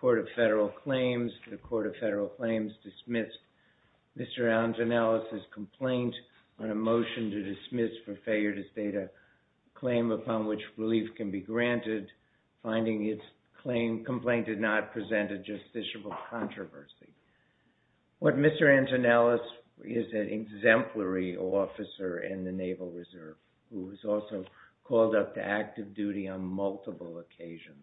Court of Federal Claims. The Court of Federal Claims dismissed Mr. Antonellis's complaint on a motion to dismiss for failure to state a claim upon which relief can be granted, finding its complaint did not present a justiciable controversy. What Mr. Antonellis is an exemplary officer in the Naval Reserve who has also called up to active duty on multiple occasions.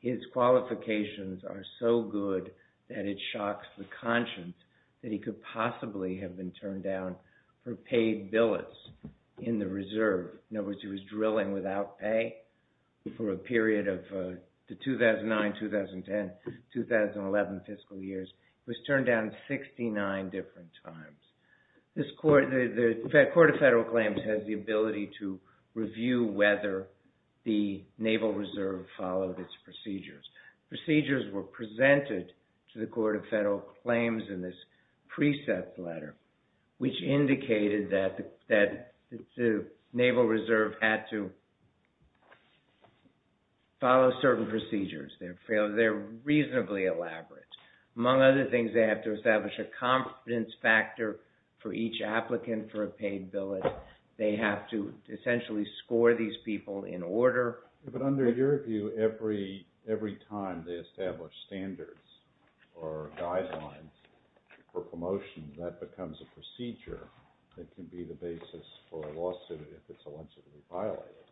His qualifications are so good that it shocks the conscience that he could possibly have been turned down for paid billets in the Reserve. In 2009, 2010, 2011 fiscal years, he was turned down 69 different times. The Court of Federal Claims has the ability to review whether the Naval Reserve followed its procedures. Procedures were presented to the Court of Federal Claims in this precept letter, which indicated that the Naval Reserve had to follow certain procedures. They're reasonably elaborate. Among other things, they have to establish a confidence factor for each applicant for a paid billet. They have to essentially score these people in order. But under your view, every time they establish standards or guidelines for promotion, that becomes a procedure that can be the basis for a case that's been extensively violated.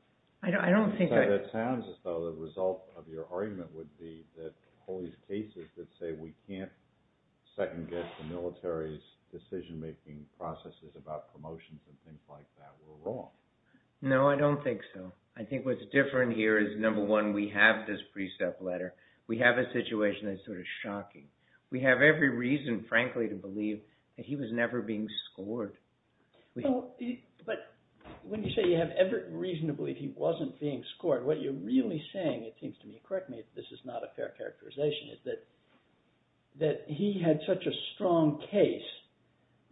So it sounds as though the result of your argument would be that all these cases that say we can't second-guess the military's decision-making processes about promotions and things like that were wrong. No, I don't think so. I think what's different here is, number one, we have this precept letter. We have a situation that's sort of shocking. We have every reason, frankly, to believe that he was never being scored. But when you say you have every reason to believe he wasn't being scored, what you're really saying, it seems to me, correct me if this is not a fair characterization, is that he had such a strong case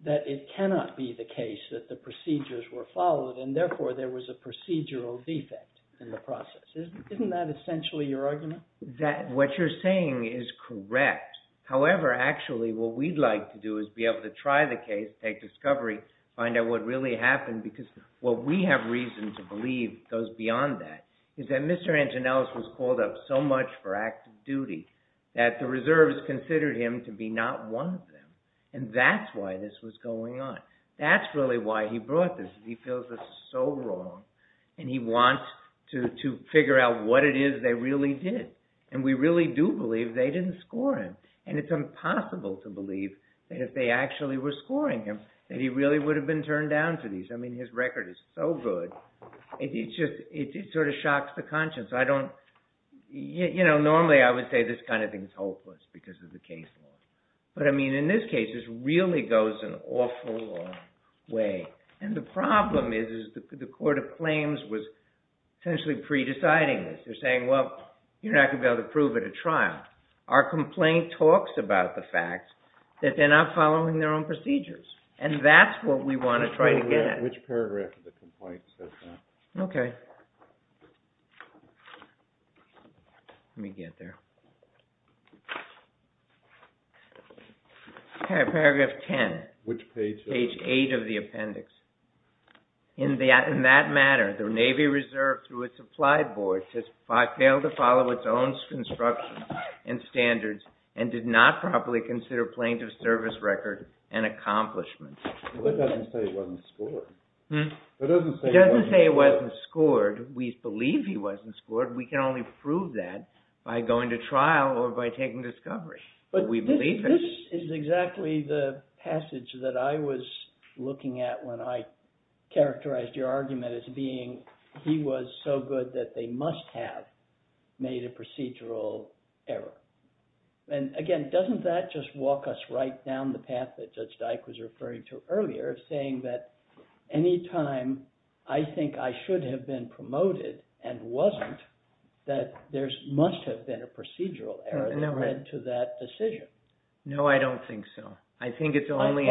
that it cannot be the case that the procedures were followed, and therefore there was a procedural defect in the process. Isn't that essentially your argument? That what you're saying is correct. However, actually, what we'd like to do is be able to try the case, take discovery, find out what really happened, because what we have reason to believe goes beyond that, is that Mr. Antonellis was called up so much for active duty that the reserves considered him to be not one of them. And that's why this was going on. That's really why he brought this. He feels this is so wrong, and he wants to figure out what it is they really did. And we really do believe they didn't score him. And it's impossible to believe that if they actually were scoring him, that he really would have been turned down to these. I mean, his record is so good, it just sort of shocks the conscience. Normally, I would say this kind of thing is hopeless because of the case law. But I mean, in this case, this really goes an awful long way. And the problem is, is the court of claims was essentially pre-deciding this. They're saying, well, you're not going to be able to prove it at trial. Our complaint talks about the fact that they're not following their own procedures. And that's what we want to try to get at. Which paragraph of the complaint says that? Okay. Let me get there. Paragraph 10. Which page? Page 8 of the appendix. In that matter, the Navy Reserve, through its applied board, failed to follow its own construction and standards, and did not properly consider plaintiff's service record an accomplishment. But that doesn't say it wasn't scored. It doesn't say it wasn't scored. We believe he wasn't scored. We can only prove that by going to trial or by taking discovery. But we believe it. This is exactly the passage that I was looking at when I characterized your argument as being, he was so good that they must have made a procedural error. And again, doesn't that just walk us right down the path that Judge Dyke was referring to earlier, saying that any time I think I should have been promoted and wasn't, that there must have been a procedural error that led to that decision? No, I don't think so. I think it's only… …in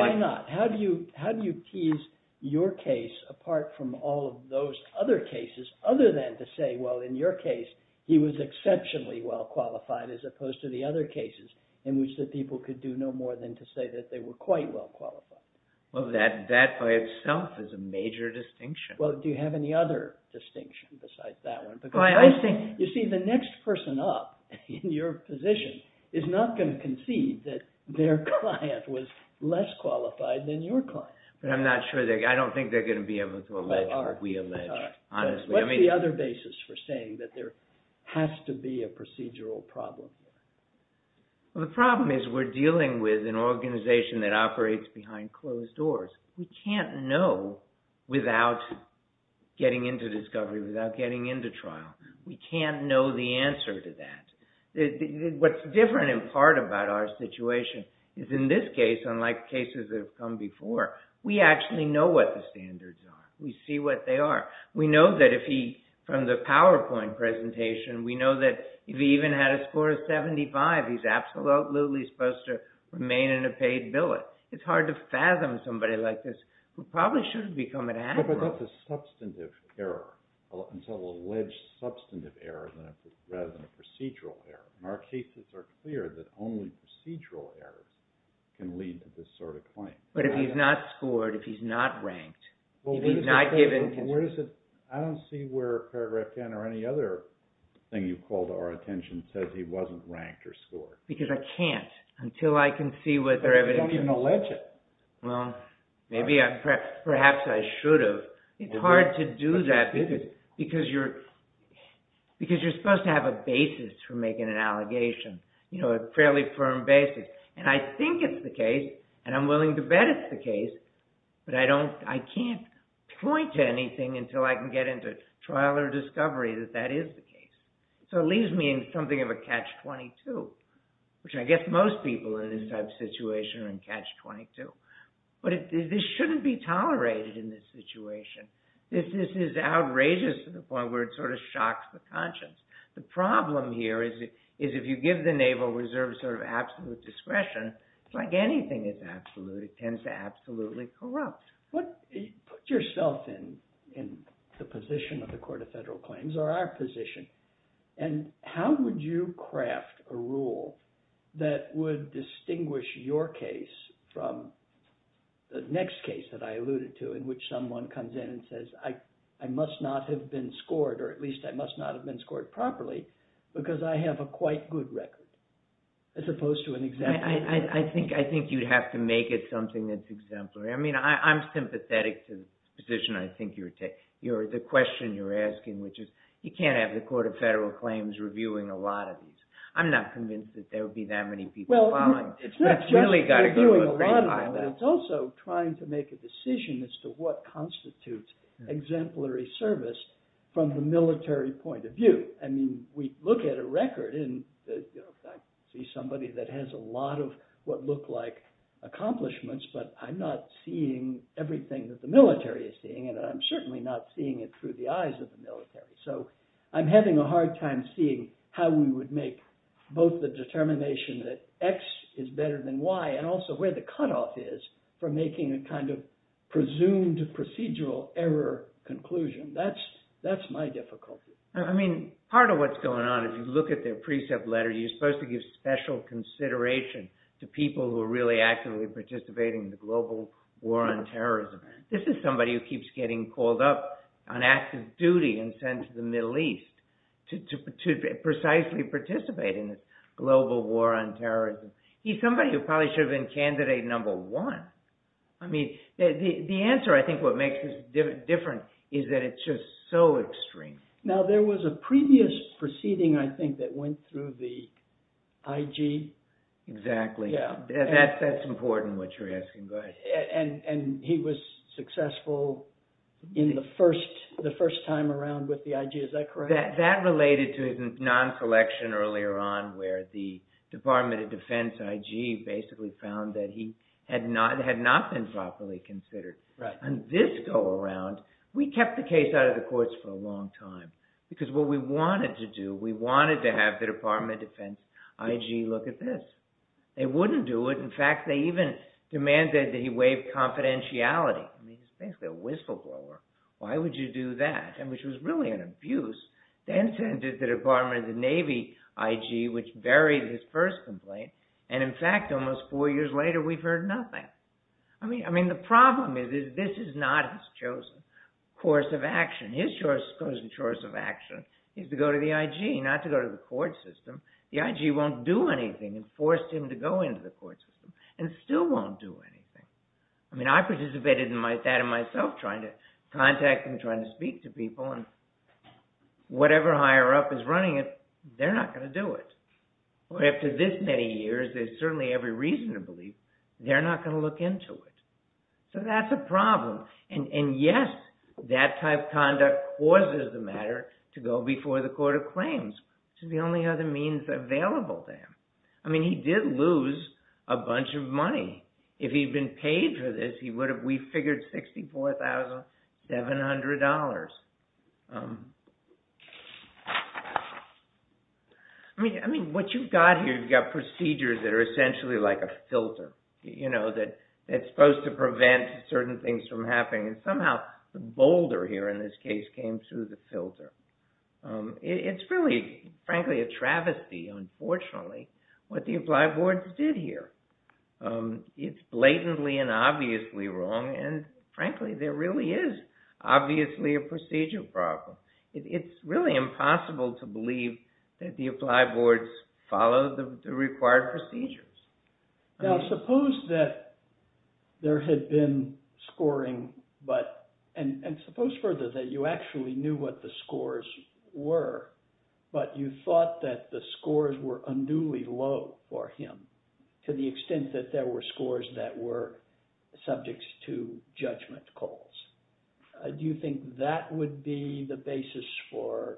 which the people could do no more than to say that they were quite well qualified. Well, that by itself is a major distinction. Well, do you have any other distinction besides that one? Well, I think… You see, the next person up in your position is not going to concede that their client was less qualified than your client. But I'm not sure. I don't think they're going to be able to allege what we allege, honestly. What's the other basis for saying that there has to be a procedural problem? Well, the problem is we're dealing with an organization that operates behind closed doors. We can't know without getting into discovery, without getting into trial. We can't know the answer to that. What's different in part about our situation is in this case, unlike cases that have come before, we actually know what the standards are. We see what they are. We know that if he, from the PowerPoint presentation, we know that if he even had a score of 75, he's absolutely supposed to remain in a paid billet. It's hard to fathom somebody like this who probably should have become an admiral. But that's a substantive error. It's an alleged substantive error rather than a procedural error. And our cases are clear that only procedural errors can lead to this sort of claim. But if he's not scored, if he's not ranked, if he's not given… I don't see where paragraph 10 or any other thing you've called our attention says he wasn't ranked or scored. Because I can't until I can see what their evidence… But you don't even allege it. Well, perhaps I should have. It's hard to do that because you're supposed to have a basis for making an allegation, a fairly firm basis. And I think it's the case, and I'm willing to bet it's the case, but I can't point to anything until I can get into trial or discovery that that is the case. So it leaves me in something of a catch-22, which I guess most people in this type of situation are in catch-22. But this shouldn't be tolerated in this situation. This is outrageous to the point where it sort of shocks the conscience. The problem here is if you give the Naval Reserve sort of absolute discretion, it's like anything is absolute. It tends to absolutely corrupt. Put yourself in the position of the Court of Federal Claims or our position, and how would you craft a rule that would distinguish your case from the next case that I alluded to in which someone comes in and says, I must not have been scored, or at least I must not have been scored properly because I have a quite good record, as opposed to an exemplary record. I think you'd have to make it something that's exemplary. I mean, I'm sympathetic to the position I think you're taking. The question you're asking, which is you can't have the Court of Federal Claims reviewing a lot of these. I'm not convinced that there would be that many people following. It's not just reviewing a lot of them. It's also trying to make a decision as to what constitutes exemplary service from the military point of view. I mean, we look at a record, and I see somebody that has a lot of what look like accomplishments, but I'm not seeing everything that the military is seeing, and I'm certainly not seeing it through the eyes of the military. So I'm having a hard time seeing how we would make both the determination that X is better than Y, and also where the cutoff is for making a kind of presumed procedural error conclusion. That's my difficulty. I mean, part of what's going on, if you look at their precept letter, you're supposed to give special consideration to people who are really actively participating in the global war on terrorism. This is somebody who keeps getting called up on active duty and sent to the Middle East to precisely participate in this global war on terrorism. He's somebody who probably should have been candidate number one. I mean, the answer, I think, what makes this different is that it's just so extreme. Now, there was a previous proceeding, I think, that went through the IG. Exactly. Yeah. That's important, what you're asking. And he was successful in the first time around with the IG. Is that correct? That related to his non-selection earlier on, where the Department of Defense IG basically found that he had not been properly considered. Right. And this go around, we kept the case out of the courts for a long time, because what we wanted to do, we wanted to have the Department of Defense IG look at this. They wouldn't do it. In fact, they even demanded that he waive confidentiality. I mean, he's basically a whistleblower. Why would you do that? And which was really an abuse. Then sent it to the Department of the Navy IG, which buried his first complaint. And in fact, almost four years later, we've heard nothing. I mean, the problem is that this is not his chosen course of action. His chosen course of action is to go to the IG, not to go to the court system. The IG won't do anything and forced him to go into the court system and still won't do anything. I mean, I participated in that myself, trying to contact him, trying to speak to people. And whatever higher up is running it, they're not going to do it. After this many years, there's certainly every reason to believe they're not going to look into it. So that's a problem. And yes, that type of conduct causes the matter to go before the court of claims. It's the only other means available to him. I mean, he did lose a bunch of money. If he'd been paid for this, he would have, we figured, $64,700. I mean, what you've got here, you've got procedures that are essentially like a filter, you know, that's supposed to prevent certain things from happening. And somehow, the boulder here in this case came through the filter. It's really, frankly, a travesty, unfortunately, what the applied boards did here. It's blatantly and obviously wrong. And frankly, there really is obviously a procedure problem. It's really impossible to believe that the applied boards follow the required procedures. Now, suppose that there had been scoring, but, and suppose further that you actually knew what the scores were, but you thought that the scores were unduly low for him, to the extent that there were scores that were subjects to judgment calls. Do you think that would be the basis for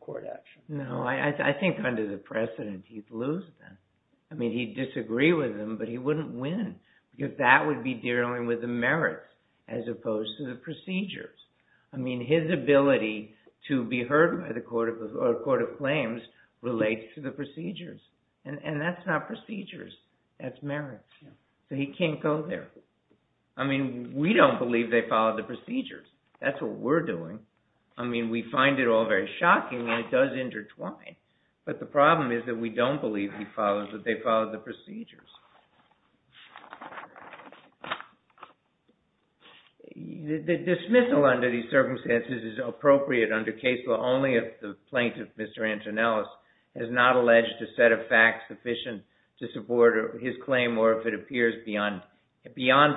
court action? No, I think under the precedent, he'd lose them. I mean, he'd disagree with them, but he wouldn't win. Because that would be dealing with the merits, as opposed to the procedures. I mean, his ability to be heard by the court of claims relates to the procedures. And that's not procedures, that's merits. So he can't go there. I mean, we don't believe they followed the procedures. That's what we're doing. I mean, we find it all very shocking, and it does intertwine. But the problem is that we don't believe he follows, that they followed the procedures. The dismissal under these circumstances is appropriate under case law, only if the plaintiff, Mr. Antonellis, has not alleged a set of facts sufficient to support his claim, or if it appears beyond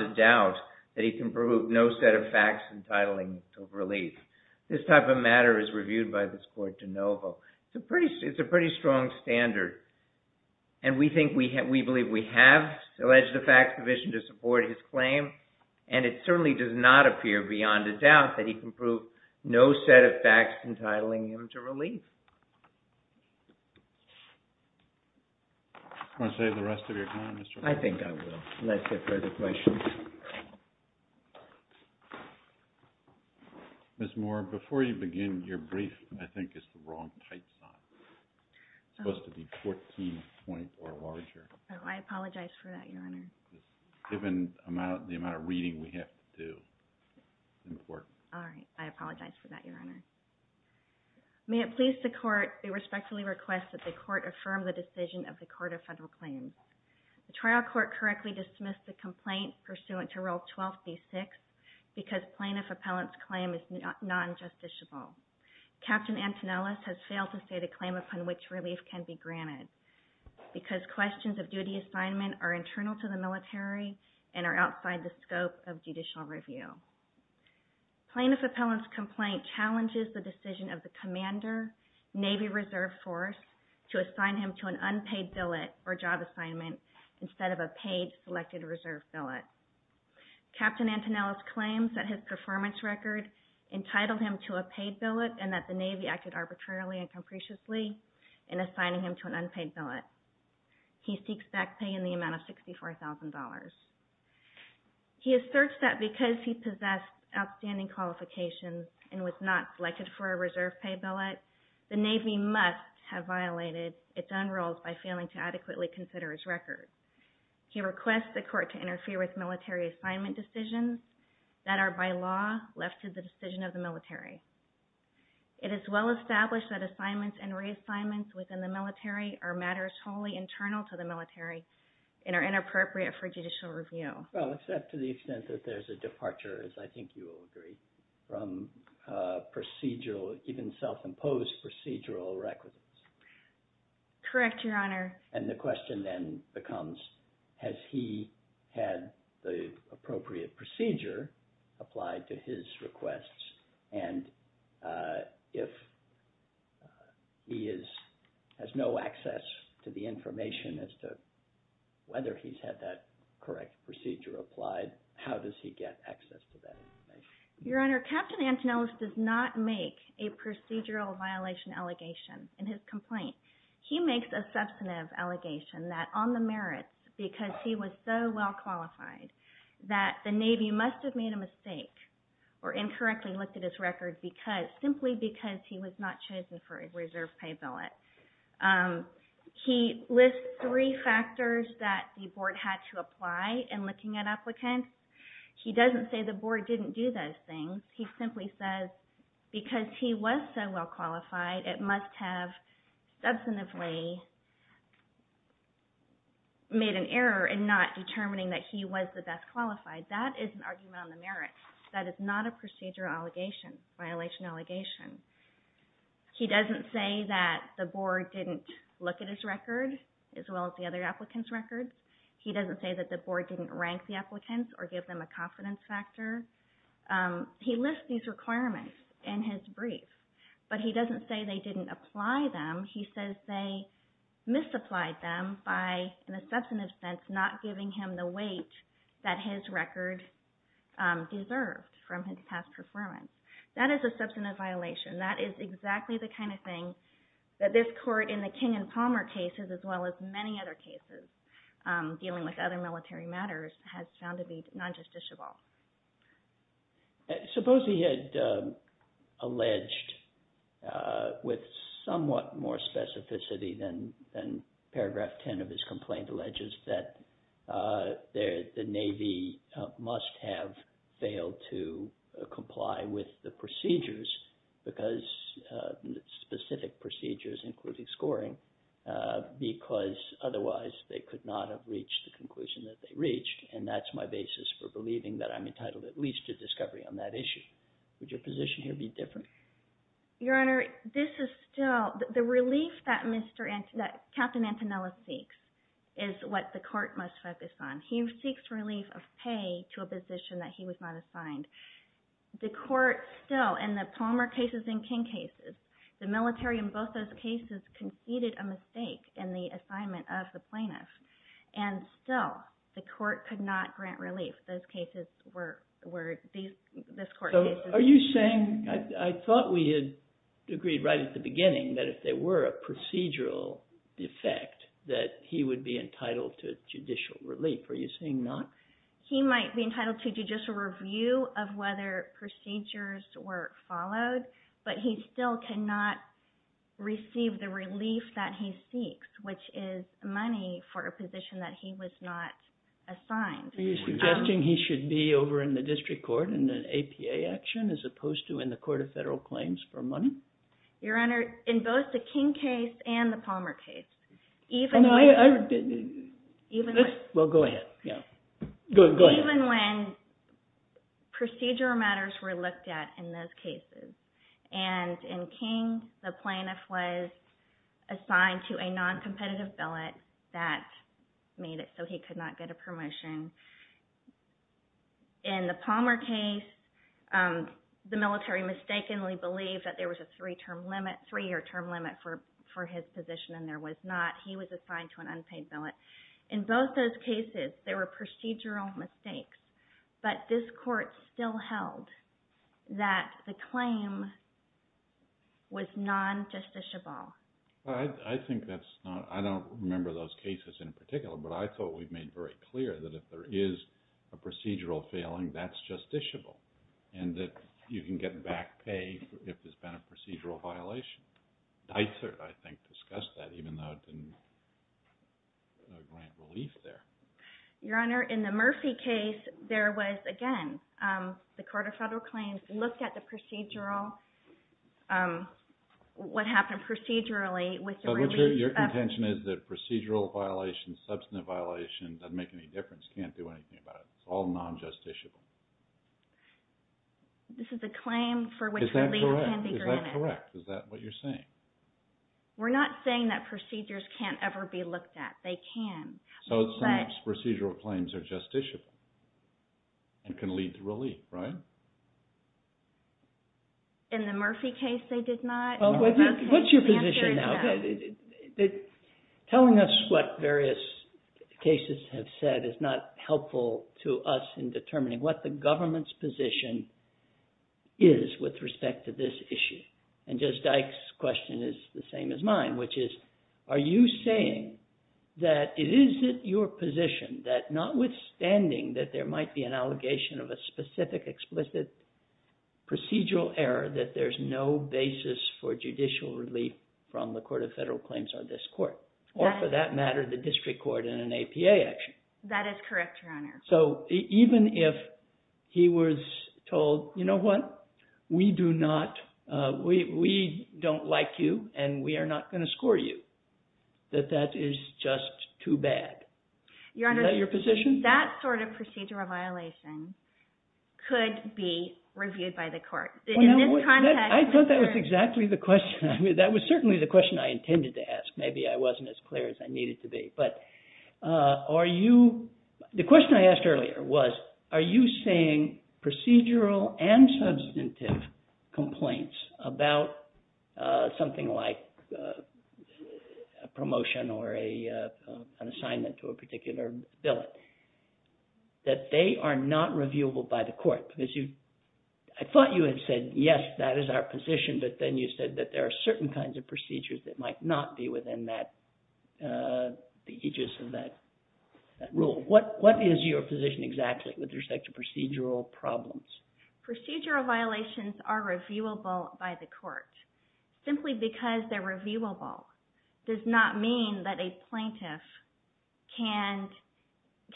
a doubt that he can prove no set of facts entitling relief. This type of matter is reviewed by this court de novo. It's a pretty strong standard. And we believe we have alleged a facts sufficient to support his claim, and it certainly does not appear beyond a doubt that he can prove no set of facts entitling him to relief. Do you want to save the rest of your time, Mr. Moore? I think I will, unless there are further questions. Ms. Moore, before you begin, your brief, I think, is the wrong type size. It's supposed to be 14 point or larger. Oh, I apologize for that, Your Honor. Given the amount of reading we have to do in court. All right. I apologize for that, Your Honor. May it please the Court, I respectfully request that the Court affirm the decision of the Court of Federal Claims. The trial court correctly dismissed the complaint, pursuant to Rule 12b-6, because plaintiff appellant's claim is non-justiciable. Captain Antonellis has failed to state a claim upon which relief can be granted, because questions of duty assignment are internal to the military and are outside the scope of judicial review. Plaintiff appellant's complaint challenges the decision of the commander, Navy Reserve Force, to assign him to an unpaid billet or job assignment instead of a paid selected reserve billet. Captain Antonellis claims that his performance record entitled him to a paid billet and that the Navy acted arbitrarily and capriciously in assigning him to an unpaid billet. He seeks back pay in the amount of $64,000. He asserts that because he possessed outstanding qualifications and was not selected for a reserve pay billet, the Navy must have violated its own rules by failing to adequately consider his record. He requests the Court to interfere with military assignment decisions that are by law left to the decision of the military. It is well established that assignments and reassignments within the military are matters wholly internal to the military and are inappropriate for judicial review. Well, except to the extent that there's a departure, as I think you will agree, from procedural, even self-imposed procedural requisites. Correct, Your Honor. And the question then becomes, has he had the appropriate procedure applied to his requests? And if he has no access to the information as to whether he's had that correct procedure applied, how does he get access to that information? Your Honor, Captain Antonellis does not make a procedural violation allegation in his complaint. He makes a substantive allegation that on the merits, because he was so well qualified, that the Navy must have made a mistake or incorrectly looked at his record simply because he was not chosen for a reserve pay billet. He lists three factors that the Board had to apply in looking at applicants. He doesn't say the Board didn't do those things. He simply says because he was so well qualified, it must have substantively made an error in not determining that he was the best qualified. That is an argument on the merits. That is not a procedural allegation, violation allegation. He doesn't say that the Board didn't look at his record as well as the other applicants' records. He doesn't say that the Board didn't rank the applicants or give them a confidence factor. He lists these requirements in his brief, but he doesn't say they didn't apply them. He says they misapplied them by, in a substantive sense, not giving him the weight that his record deserved from his past performance. That is a substantive violation. That is exactly the kind of thing that this court in the King and Palmer cases, as well as many other cases dealing with other military matters, has found to be non-justiciable. Suppose he had alleged with somewhat more specificity than paragraph 10 of his complaint alleges that the Navy must have failed to comply with the procedures because specific procedures, including scoring, because otherwise they could not have reached the conclusion that they reached. That's my basis for believing that I'm entitled at least to discovery on that issue. Would your position here be different? Your Honor, the relief that Captain Antonella seeks is what the court must focus on. He seeks relief of pay to a position that he was not assigned. The court still, in the Palmer cases and King cases, the military in both those cases conceded a mistake in the assignment of the plaintiff. Still, the court could not grant relief. Those cases were, this court's cases. Are you saying, I thought we had agreed right at the beginning that if there were a procedural defect that he would be entitled to judicial relief. Are you saying not? He might be entitled to judicial review of whether procedures were followed, but he still cannot receive the relief that he seeks, which is money for a position that he was not assigned. Are you suggesting he should be over in the district court in an APA action as opposed to in the Court of Federal Claims for money? Your Honor, in both the King case and the Palmer case, even when... Well, go ahead. Even when procedural matters were looked at in those cases, and in King, the plaintiff was assigned to a noncompetitive billet that made it so he could not get a promotion. In the Palmer case, the military mistakenly believed that there was a three-year term limit for his position, and there was not. He was assigned to an unpaid billet. In both those cases, there were procedural mistakes, but this Court still held that the claim was non-justiciable. I think that's not... I don't remember those cases in particular, but I thought we made very clear that if there is a procedural failing, that's justiciable, and that you can get back pay if there's been a procedural violation. Dysart, I think, discussed that, even though it didn't grant relief there. Your Honor, in the Murphy case, there was, again, the Court of Federal Claims looked at what happened procedurally with the release of... So your contention is that procedural violations, substantive violations, doesn't make any difference, can't do anything about it. It's all non-justiciable. This is a claim for which relief can be granted. Is that correct? Is that what you're saying? We're not saying that procedures can't ever be looked at. They can. So procedural claims are justiciable and can lead to relief, right? In the Murphy case, they did not. What's your position now? Telling us what various cases have said is not helpful to us in determining what the government's position is with respect to this issue. And Judge Dyke's question is the same as mine, which is, are you saying that it isn't your position that, notwithstanding that there might be an allegation of a specific, explicit procedural error, that there's no basis for judicial relief from the Court of Federal Claims or this Court, or for that matter, the district court in an APA action? That is correct, Your Honor. So even if he was told, you know what, we do not – we don't like you and we are not going to score you, that that is just too bad. Is that your position? Your Honor, that sort of procedural violation could be reviewed by the court. I thought that was exactly the question. That was certainly the question I intended to ask. Maybe I wasn't as clear as I needed to be. But are you – the question I asked earlier was, are you saying procedural and substantive complaints about something like a promotion or an assignment to a particular bill that they are not reviewable by the court? Because I thought you had said, yes, that is our position, but then you said that there are certain kinds of procedures that might not be within the aegis of that rule. What is your position exactly with respect to procedural problems? Procedural violations are reviewable by the court. Simply because they're reviewable does not mean that a plaintiff can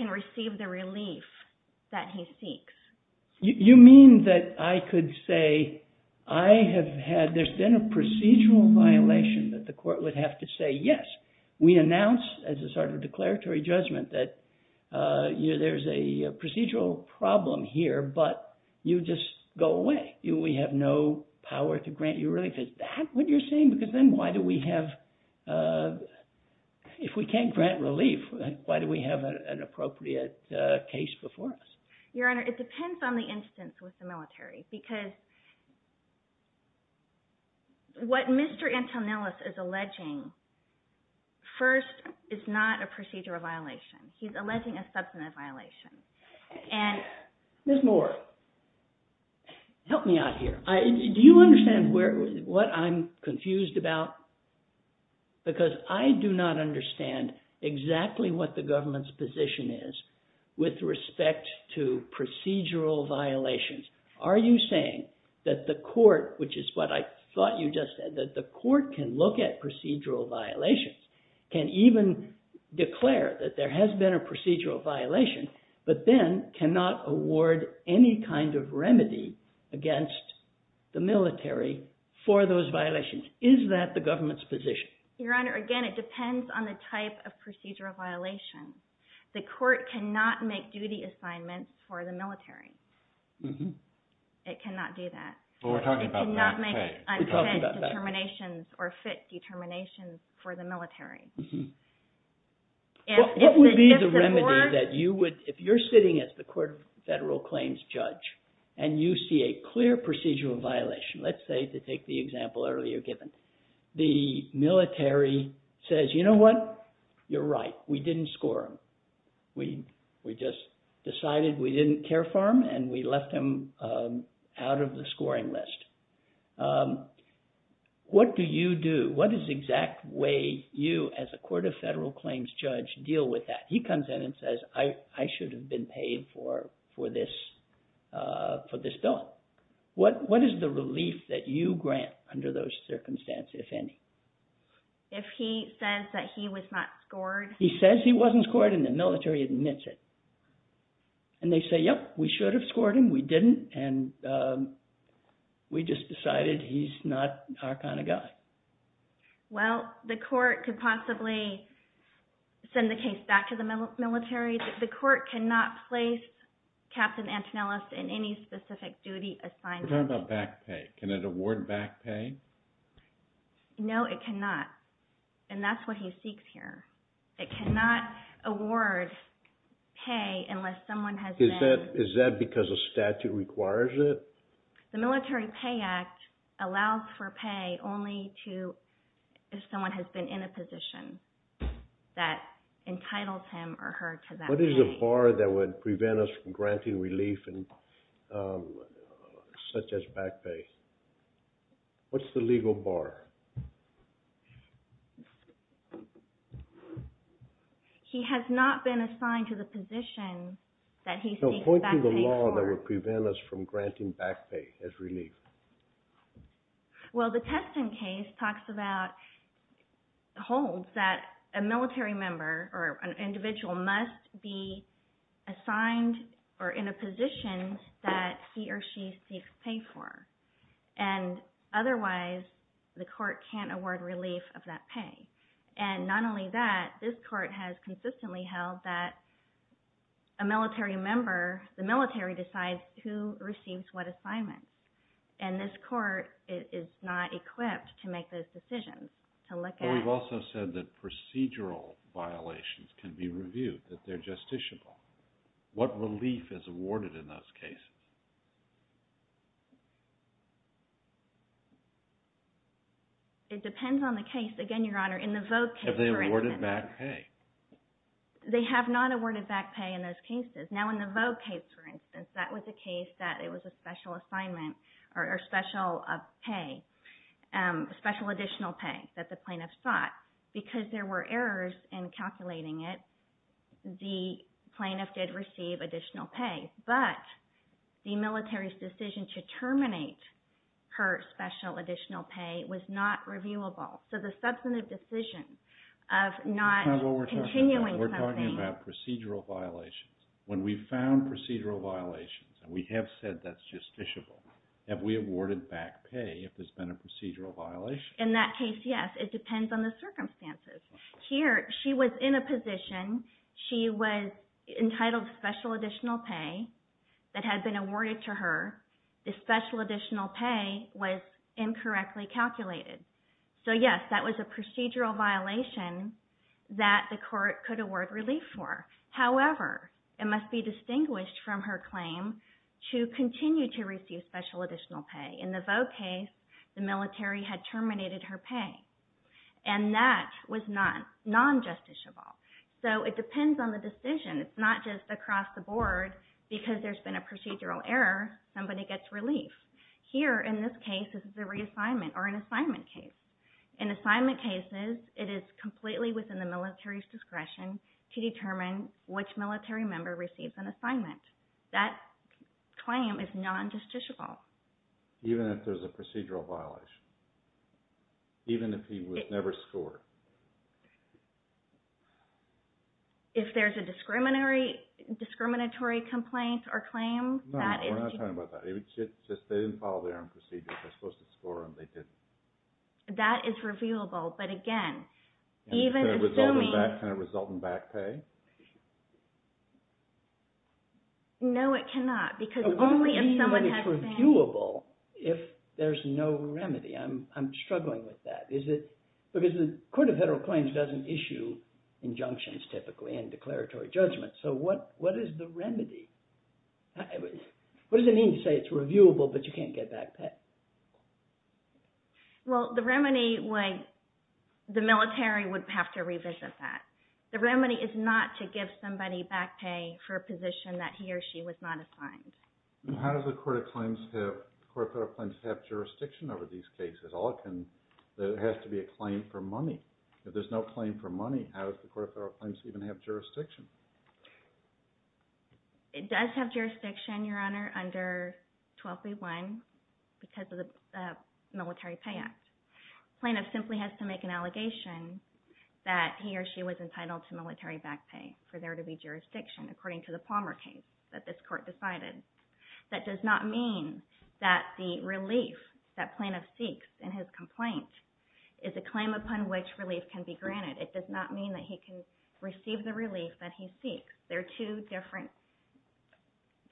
receive the relief that he seeks. You mean that I could say I have had – there's been a procedural violation that the court would have to say yes. We announce as a sort of declaratory judgment that there's a procedural problem here, but you just go away. We have no power to grant you relief. Is that what you're saying? Because then why do we have – if we can't grant relief, why do we have an appropriate case before us? Your Honor, it depends on the instance with the military. Because what Mr. Antonellis is alleging first is not a procedural violation. He's alleging a substantive violation. Ms. Moore, help me out here. Do you understand what I'm confused about? Because I do not understand exactly what the government's position is with respect to procedural violations. Are you saying that the court, which is what I thought you just said, that the court can look at procedural violations, can even declare that there has been a procedural violation, but then cannot award any kind of remedy against the military for those violations. Is that the government's position? Your Honor, again, it depends on the type of procedural violation. The court cannot make duty assignments for the military. It cannot do that. Well, we're talking about that. It cannot make unfit determinations or fit determinations for the military. What would be the remedy that you would – if you're sitting as the court of federal claims judge and you see a clear procedural violation, let's say to take the example earlier given, the military says, you know what, you're right, we didn't score them. We just decided we didn't care for them, and we left them out of the scoring list. What do you do? What is the exact way you as a court of federal claims judge deal with that? He comes in and says, I should have been paid for this bill. What is the relief that you grant under those circumstances, if any? If he says that he was not scored? He says he wasn't scored, and the military admits it. And they say, yep, we should have scored him. We didn't, and we just decided he's not our kind of guy. Well, the court could possibly send the case back to the military. The court cannot place Captain Antonellis in any specific duty assignment. We're talking about back pay. Can it award back pay? No, it cannot, and that's what he seeks here. It cannot award pay unless someone has been. Is that because a statute requires it? The Military Pay Act allows for pay only if someone has been in a position that entitles him or her to that pay. What is the bar that would prevent us from granting relief such as back pay? What's the legal bar? He has not been assigned to the position that he seeks back pay for. Point to the law that would prevent us from granting back pay as relief. Well, the testing case talks about holds that a military member or an individual must be assigned or in a position that he or she seeks pay for. And otherwise, the court can't award relief of that pay. And not only that, this court has consistently held that a military member, the military decides who receives what assignment. And this court is not equipped to make those decisions. But we've also said that procedural violations can be reviewed, that they're justiciable. What relief is awarded in those cases? It depends on the case. Again, Your Honor, in the Vogue case, for instance. Have they awarded back pay? They have not awarded back pay in those cases. Now, in the Vogue case, for instance, that was a case that it was a special assignment or special pay, special additional pay that the plaintiff sought. Because there were errors in calculating it, the plaintiff did receive additional pay. But the military's decision to terminate her special additional pay was not reviewable. So the substantive decision of not continuing something. We're talking about procedural violations. When we found procedural violations, and we have said that's justiciable, have we awarded back pay if there's been a procedural violation? In that case, yes. It depends on the circumstances. Here, she was in a position. She was entitled special additional pay that had been awarded to her. The special additional pay was incorrectly calculated. So, yes, that was a procedural violation that the court could award relief for. However, it must be distinguished from her claim to continue to receive special additional pay. In the Vogue case, the military had terminated her pay. And that was non-justiciable. So it depends on the decision. It's not just across the board. Because there's been a procedural error, somebody gets relief. Here, in this case, this is a reassignment or an assignment case. In assignment cases, it is completely within the military's discretion to determine which military member receives an assignment. That claim is non-justiciable. Even if there's a procedural violation? Even if he was never scored? If there's a discriminatory complaint or claim, that is. No, we're not talking about that. They didn't follow their own procedure. If they're supposed to score them, they did. That is reviewable. But again, even assuming— Can it result in back pay? Because only if someone has— What do you mean it's reviewable if there's no remedy? I'm struggling with that. Because the Court of Federal Claims doesn't issue injunctions, typically, and declaratory judgments. So what is the remedy? What does it mean to say it's reviewable, but you can't get back pay? Well, the remedy, the military would have to revisit that. The remedy is not to give somebody back pay for a position that he or she was not assigned. How does the Court of Federal Claims have jurisdiction over these cases? It has to be a claim for money. If there's no claim for money, how does the Court of Federal Claims even have jurisdiction? It does have jurisdiction, Your Honor, under 12b-1 because of the Military Pay Act. Plaintiff simply has to make an allegation that he or she was entitled to military back pay for there to be jurisdiction, according to the Palmer case that this Court decided. That does not mean that the relief that plaintiff seeks in his complaint is a claim upon which relief can be granted. It does not mean that he can receive the relief that he seeks. There are two different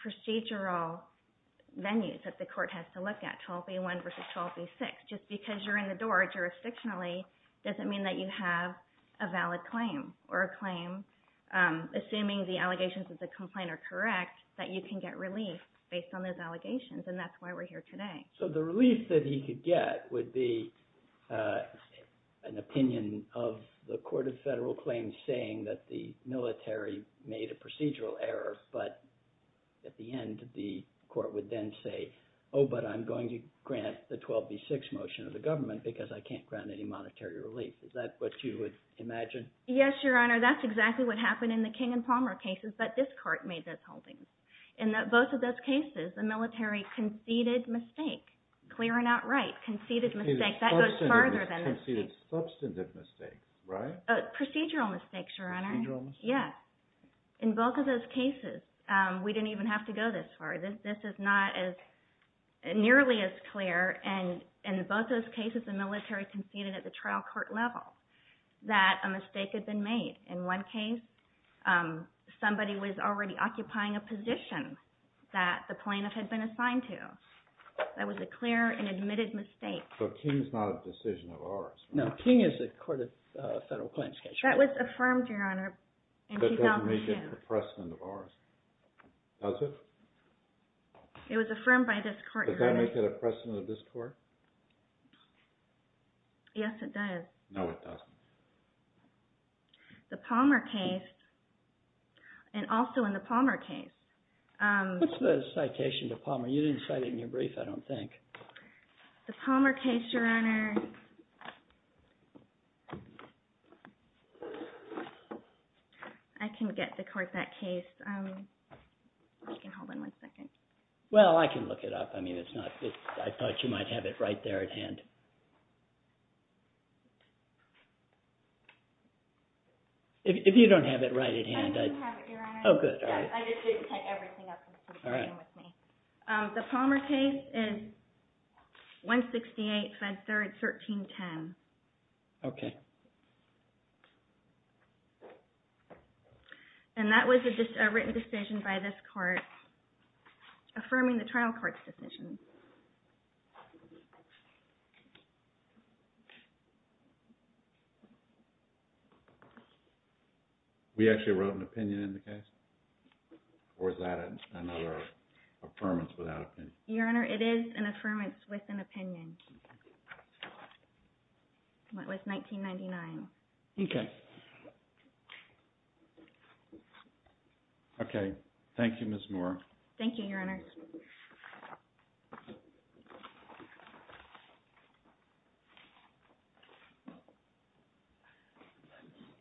procedural venues that the Court has to look at, 12b-1 versus 12b-6. Just because you're in the door jurisdictionally doesn't mean that you have a valid claim, or a claim, assuming the allegations of the complaint are correct, that you can get relief based on those allegations, and that's why we're here today. So the relief that he could get would be an opinion of the Court of Federal Claims saying that the military made a procedural error, but at the end, the Court would then say, oh, but I'm going to grant the 12b-6 motion of the government because I can't grant any monetary relief. Is that what you would imagine? Yes, Your Honor. That's exactly what happened in the King and Palmer cases, but this Court made those holdings. In both of those cases, the military conceded mistake, clear and outright, conceded mistake. That goes farther than a mistake. Conceded substantive mistake, right? Procedural mistake, Your Honor. Procedural mistake? Yes. In both of those cases, we didn't even have to go this far. This is not nearly as clear. In both those cases, the military conceded at the trial court level that a mistake had been made. In one case, somebody was already occupying a position that the plaintiff had been assigned to. That was a clear and admitted mistake. So King is not a decision of ours. No, King is the Court of Federal Claims case. That was affirmed, Your Honor, in 2002. That doesn't make it a precedent of ours, does it? It was affirmed by this Court, Your Honor. Does that make it a precedent of this Court? Yes, it does. No, it doesn't. The Palmer case, and also in the Palmer case— What's the citation to Palmer? You didn't cite it in your brief, I don't think. The Palmer case, Your Honor—I can get the court that case. If you can hold on one second. Well, I can look it up. If you don't have it right at hand, I— I do have it, Your Honor. Oh, good. I just need to take everything up and see what's going on with me. The Palmer case is 168, Fed 3rd, 1310. Okay. And that was a written decision by this Court, affirming the trial court's decision. We actually wrote an opinion in the case? Or is that another affirmance without an opinion? Your Honor, it is an affirmance with an opinion. It was 1999. Okay. Okay. Thank you, Ms. Moore. Thank you, Your Honor.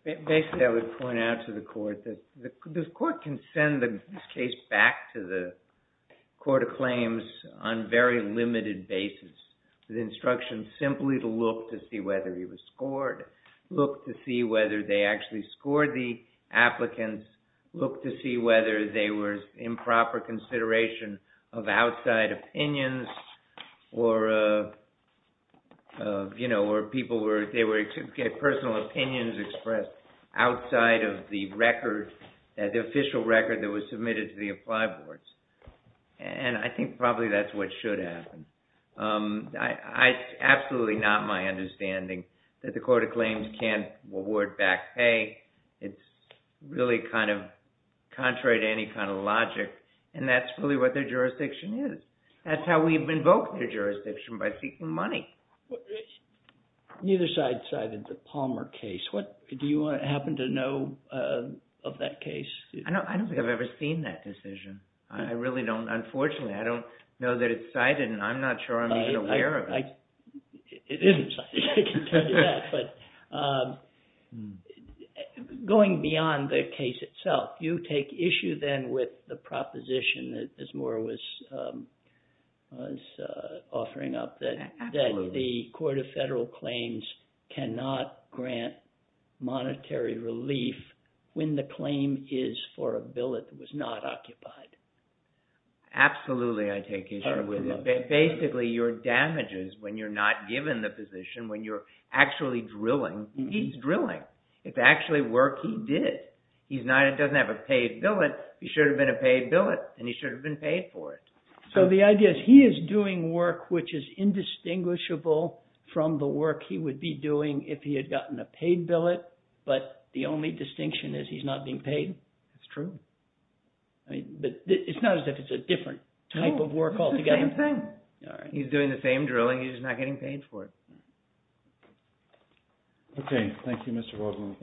Basically, I would point out to the Court that the Court can send the case back to the Court of Claims on very limited basis with instructions simply to look to see whether he was scored, look to see whether they actually scored the applicants, look to see whether they were in proper consideration of outside opinions or, you know, or people were—they were— personal opinions expressed outside of the record, the official record that was submitted to the apply boards. And I think probably that's what should happen. It's absolutely not my understanding that the Court of Claims can't award back pay. It's really kind of contrary to any kind of logic. And that's really what their jurisdiction is. That's how we've invoked their jurisdiction, by seeking money. Neither side cited the Palmer case. Do you happen to know of that case? I don't think I've ever seen that decision. I really don't, unfortunately. I don't know that it's cited and I'm not sure I'm even aware of it. It isn't cited, I can tell you that. But going beyond the case itself, do you take issue then with the proposition that Ms. Moore was offering up that the Court of Federal Claims cannot grant monetary relief when the claim is for a bill that was not occupied? Absolutely, I take issue with it. Basically, your damages when you're not given the position, when you're actually drilling, he's drilling. It's actually work he did. He doesn't have a paid billet. He should have been a paid billet and he should have been paid for it. So the idea is he is doing work which is indistinguishable from the work he would be doing if he had gotten a paid billet. But the only distinction is he's not being paid. It's true. But it's not as if it's a different type of work altogether. No, it's the same thing. He's doing the same drilling, he's just not getting paid for it. Okay, thank you, Mr. Waldman.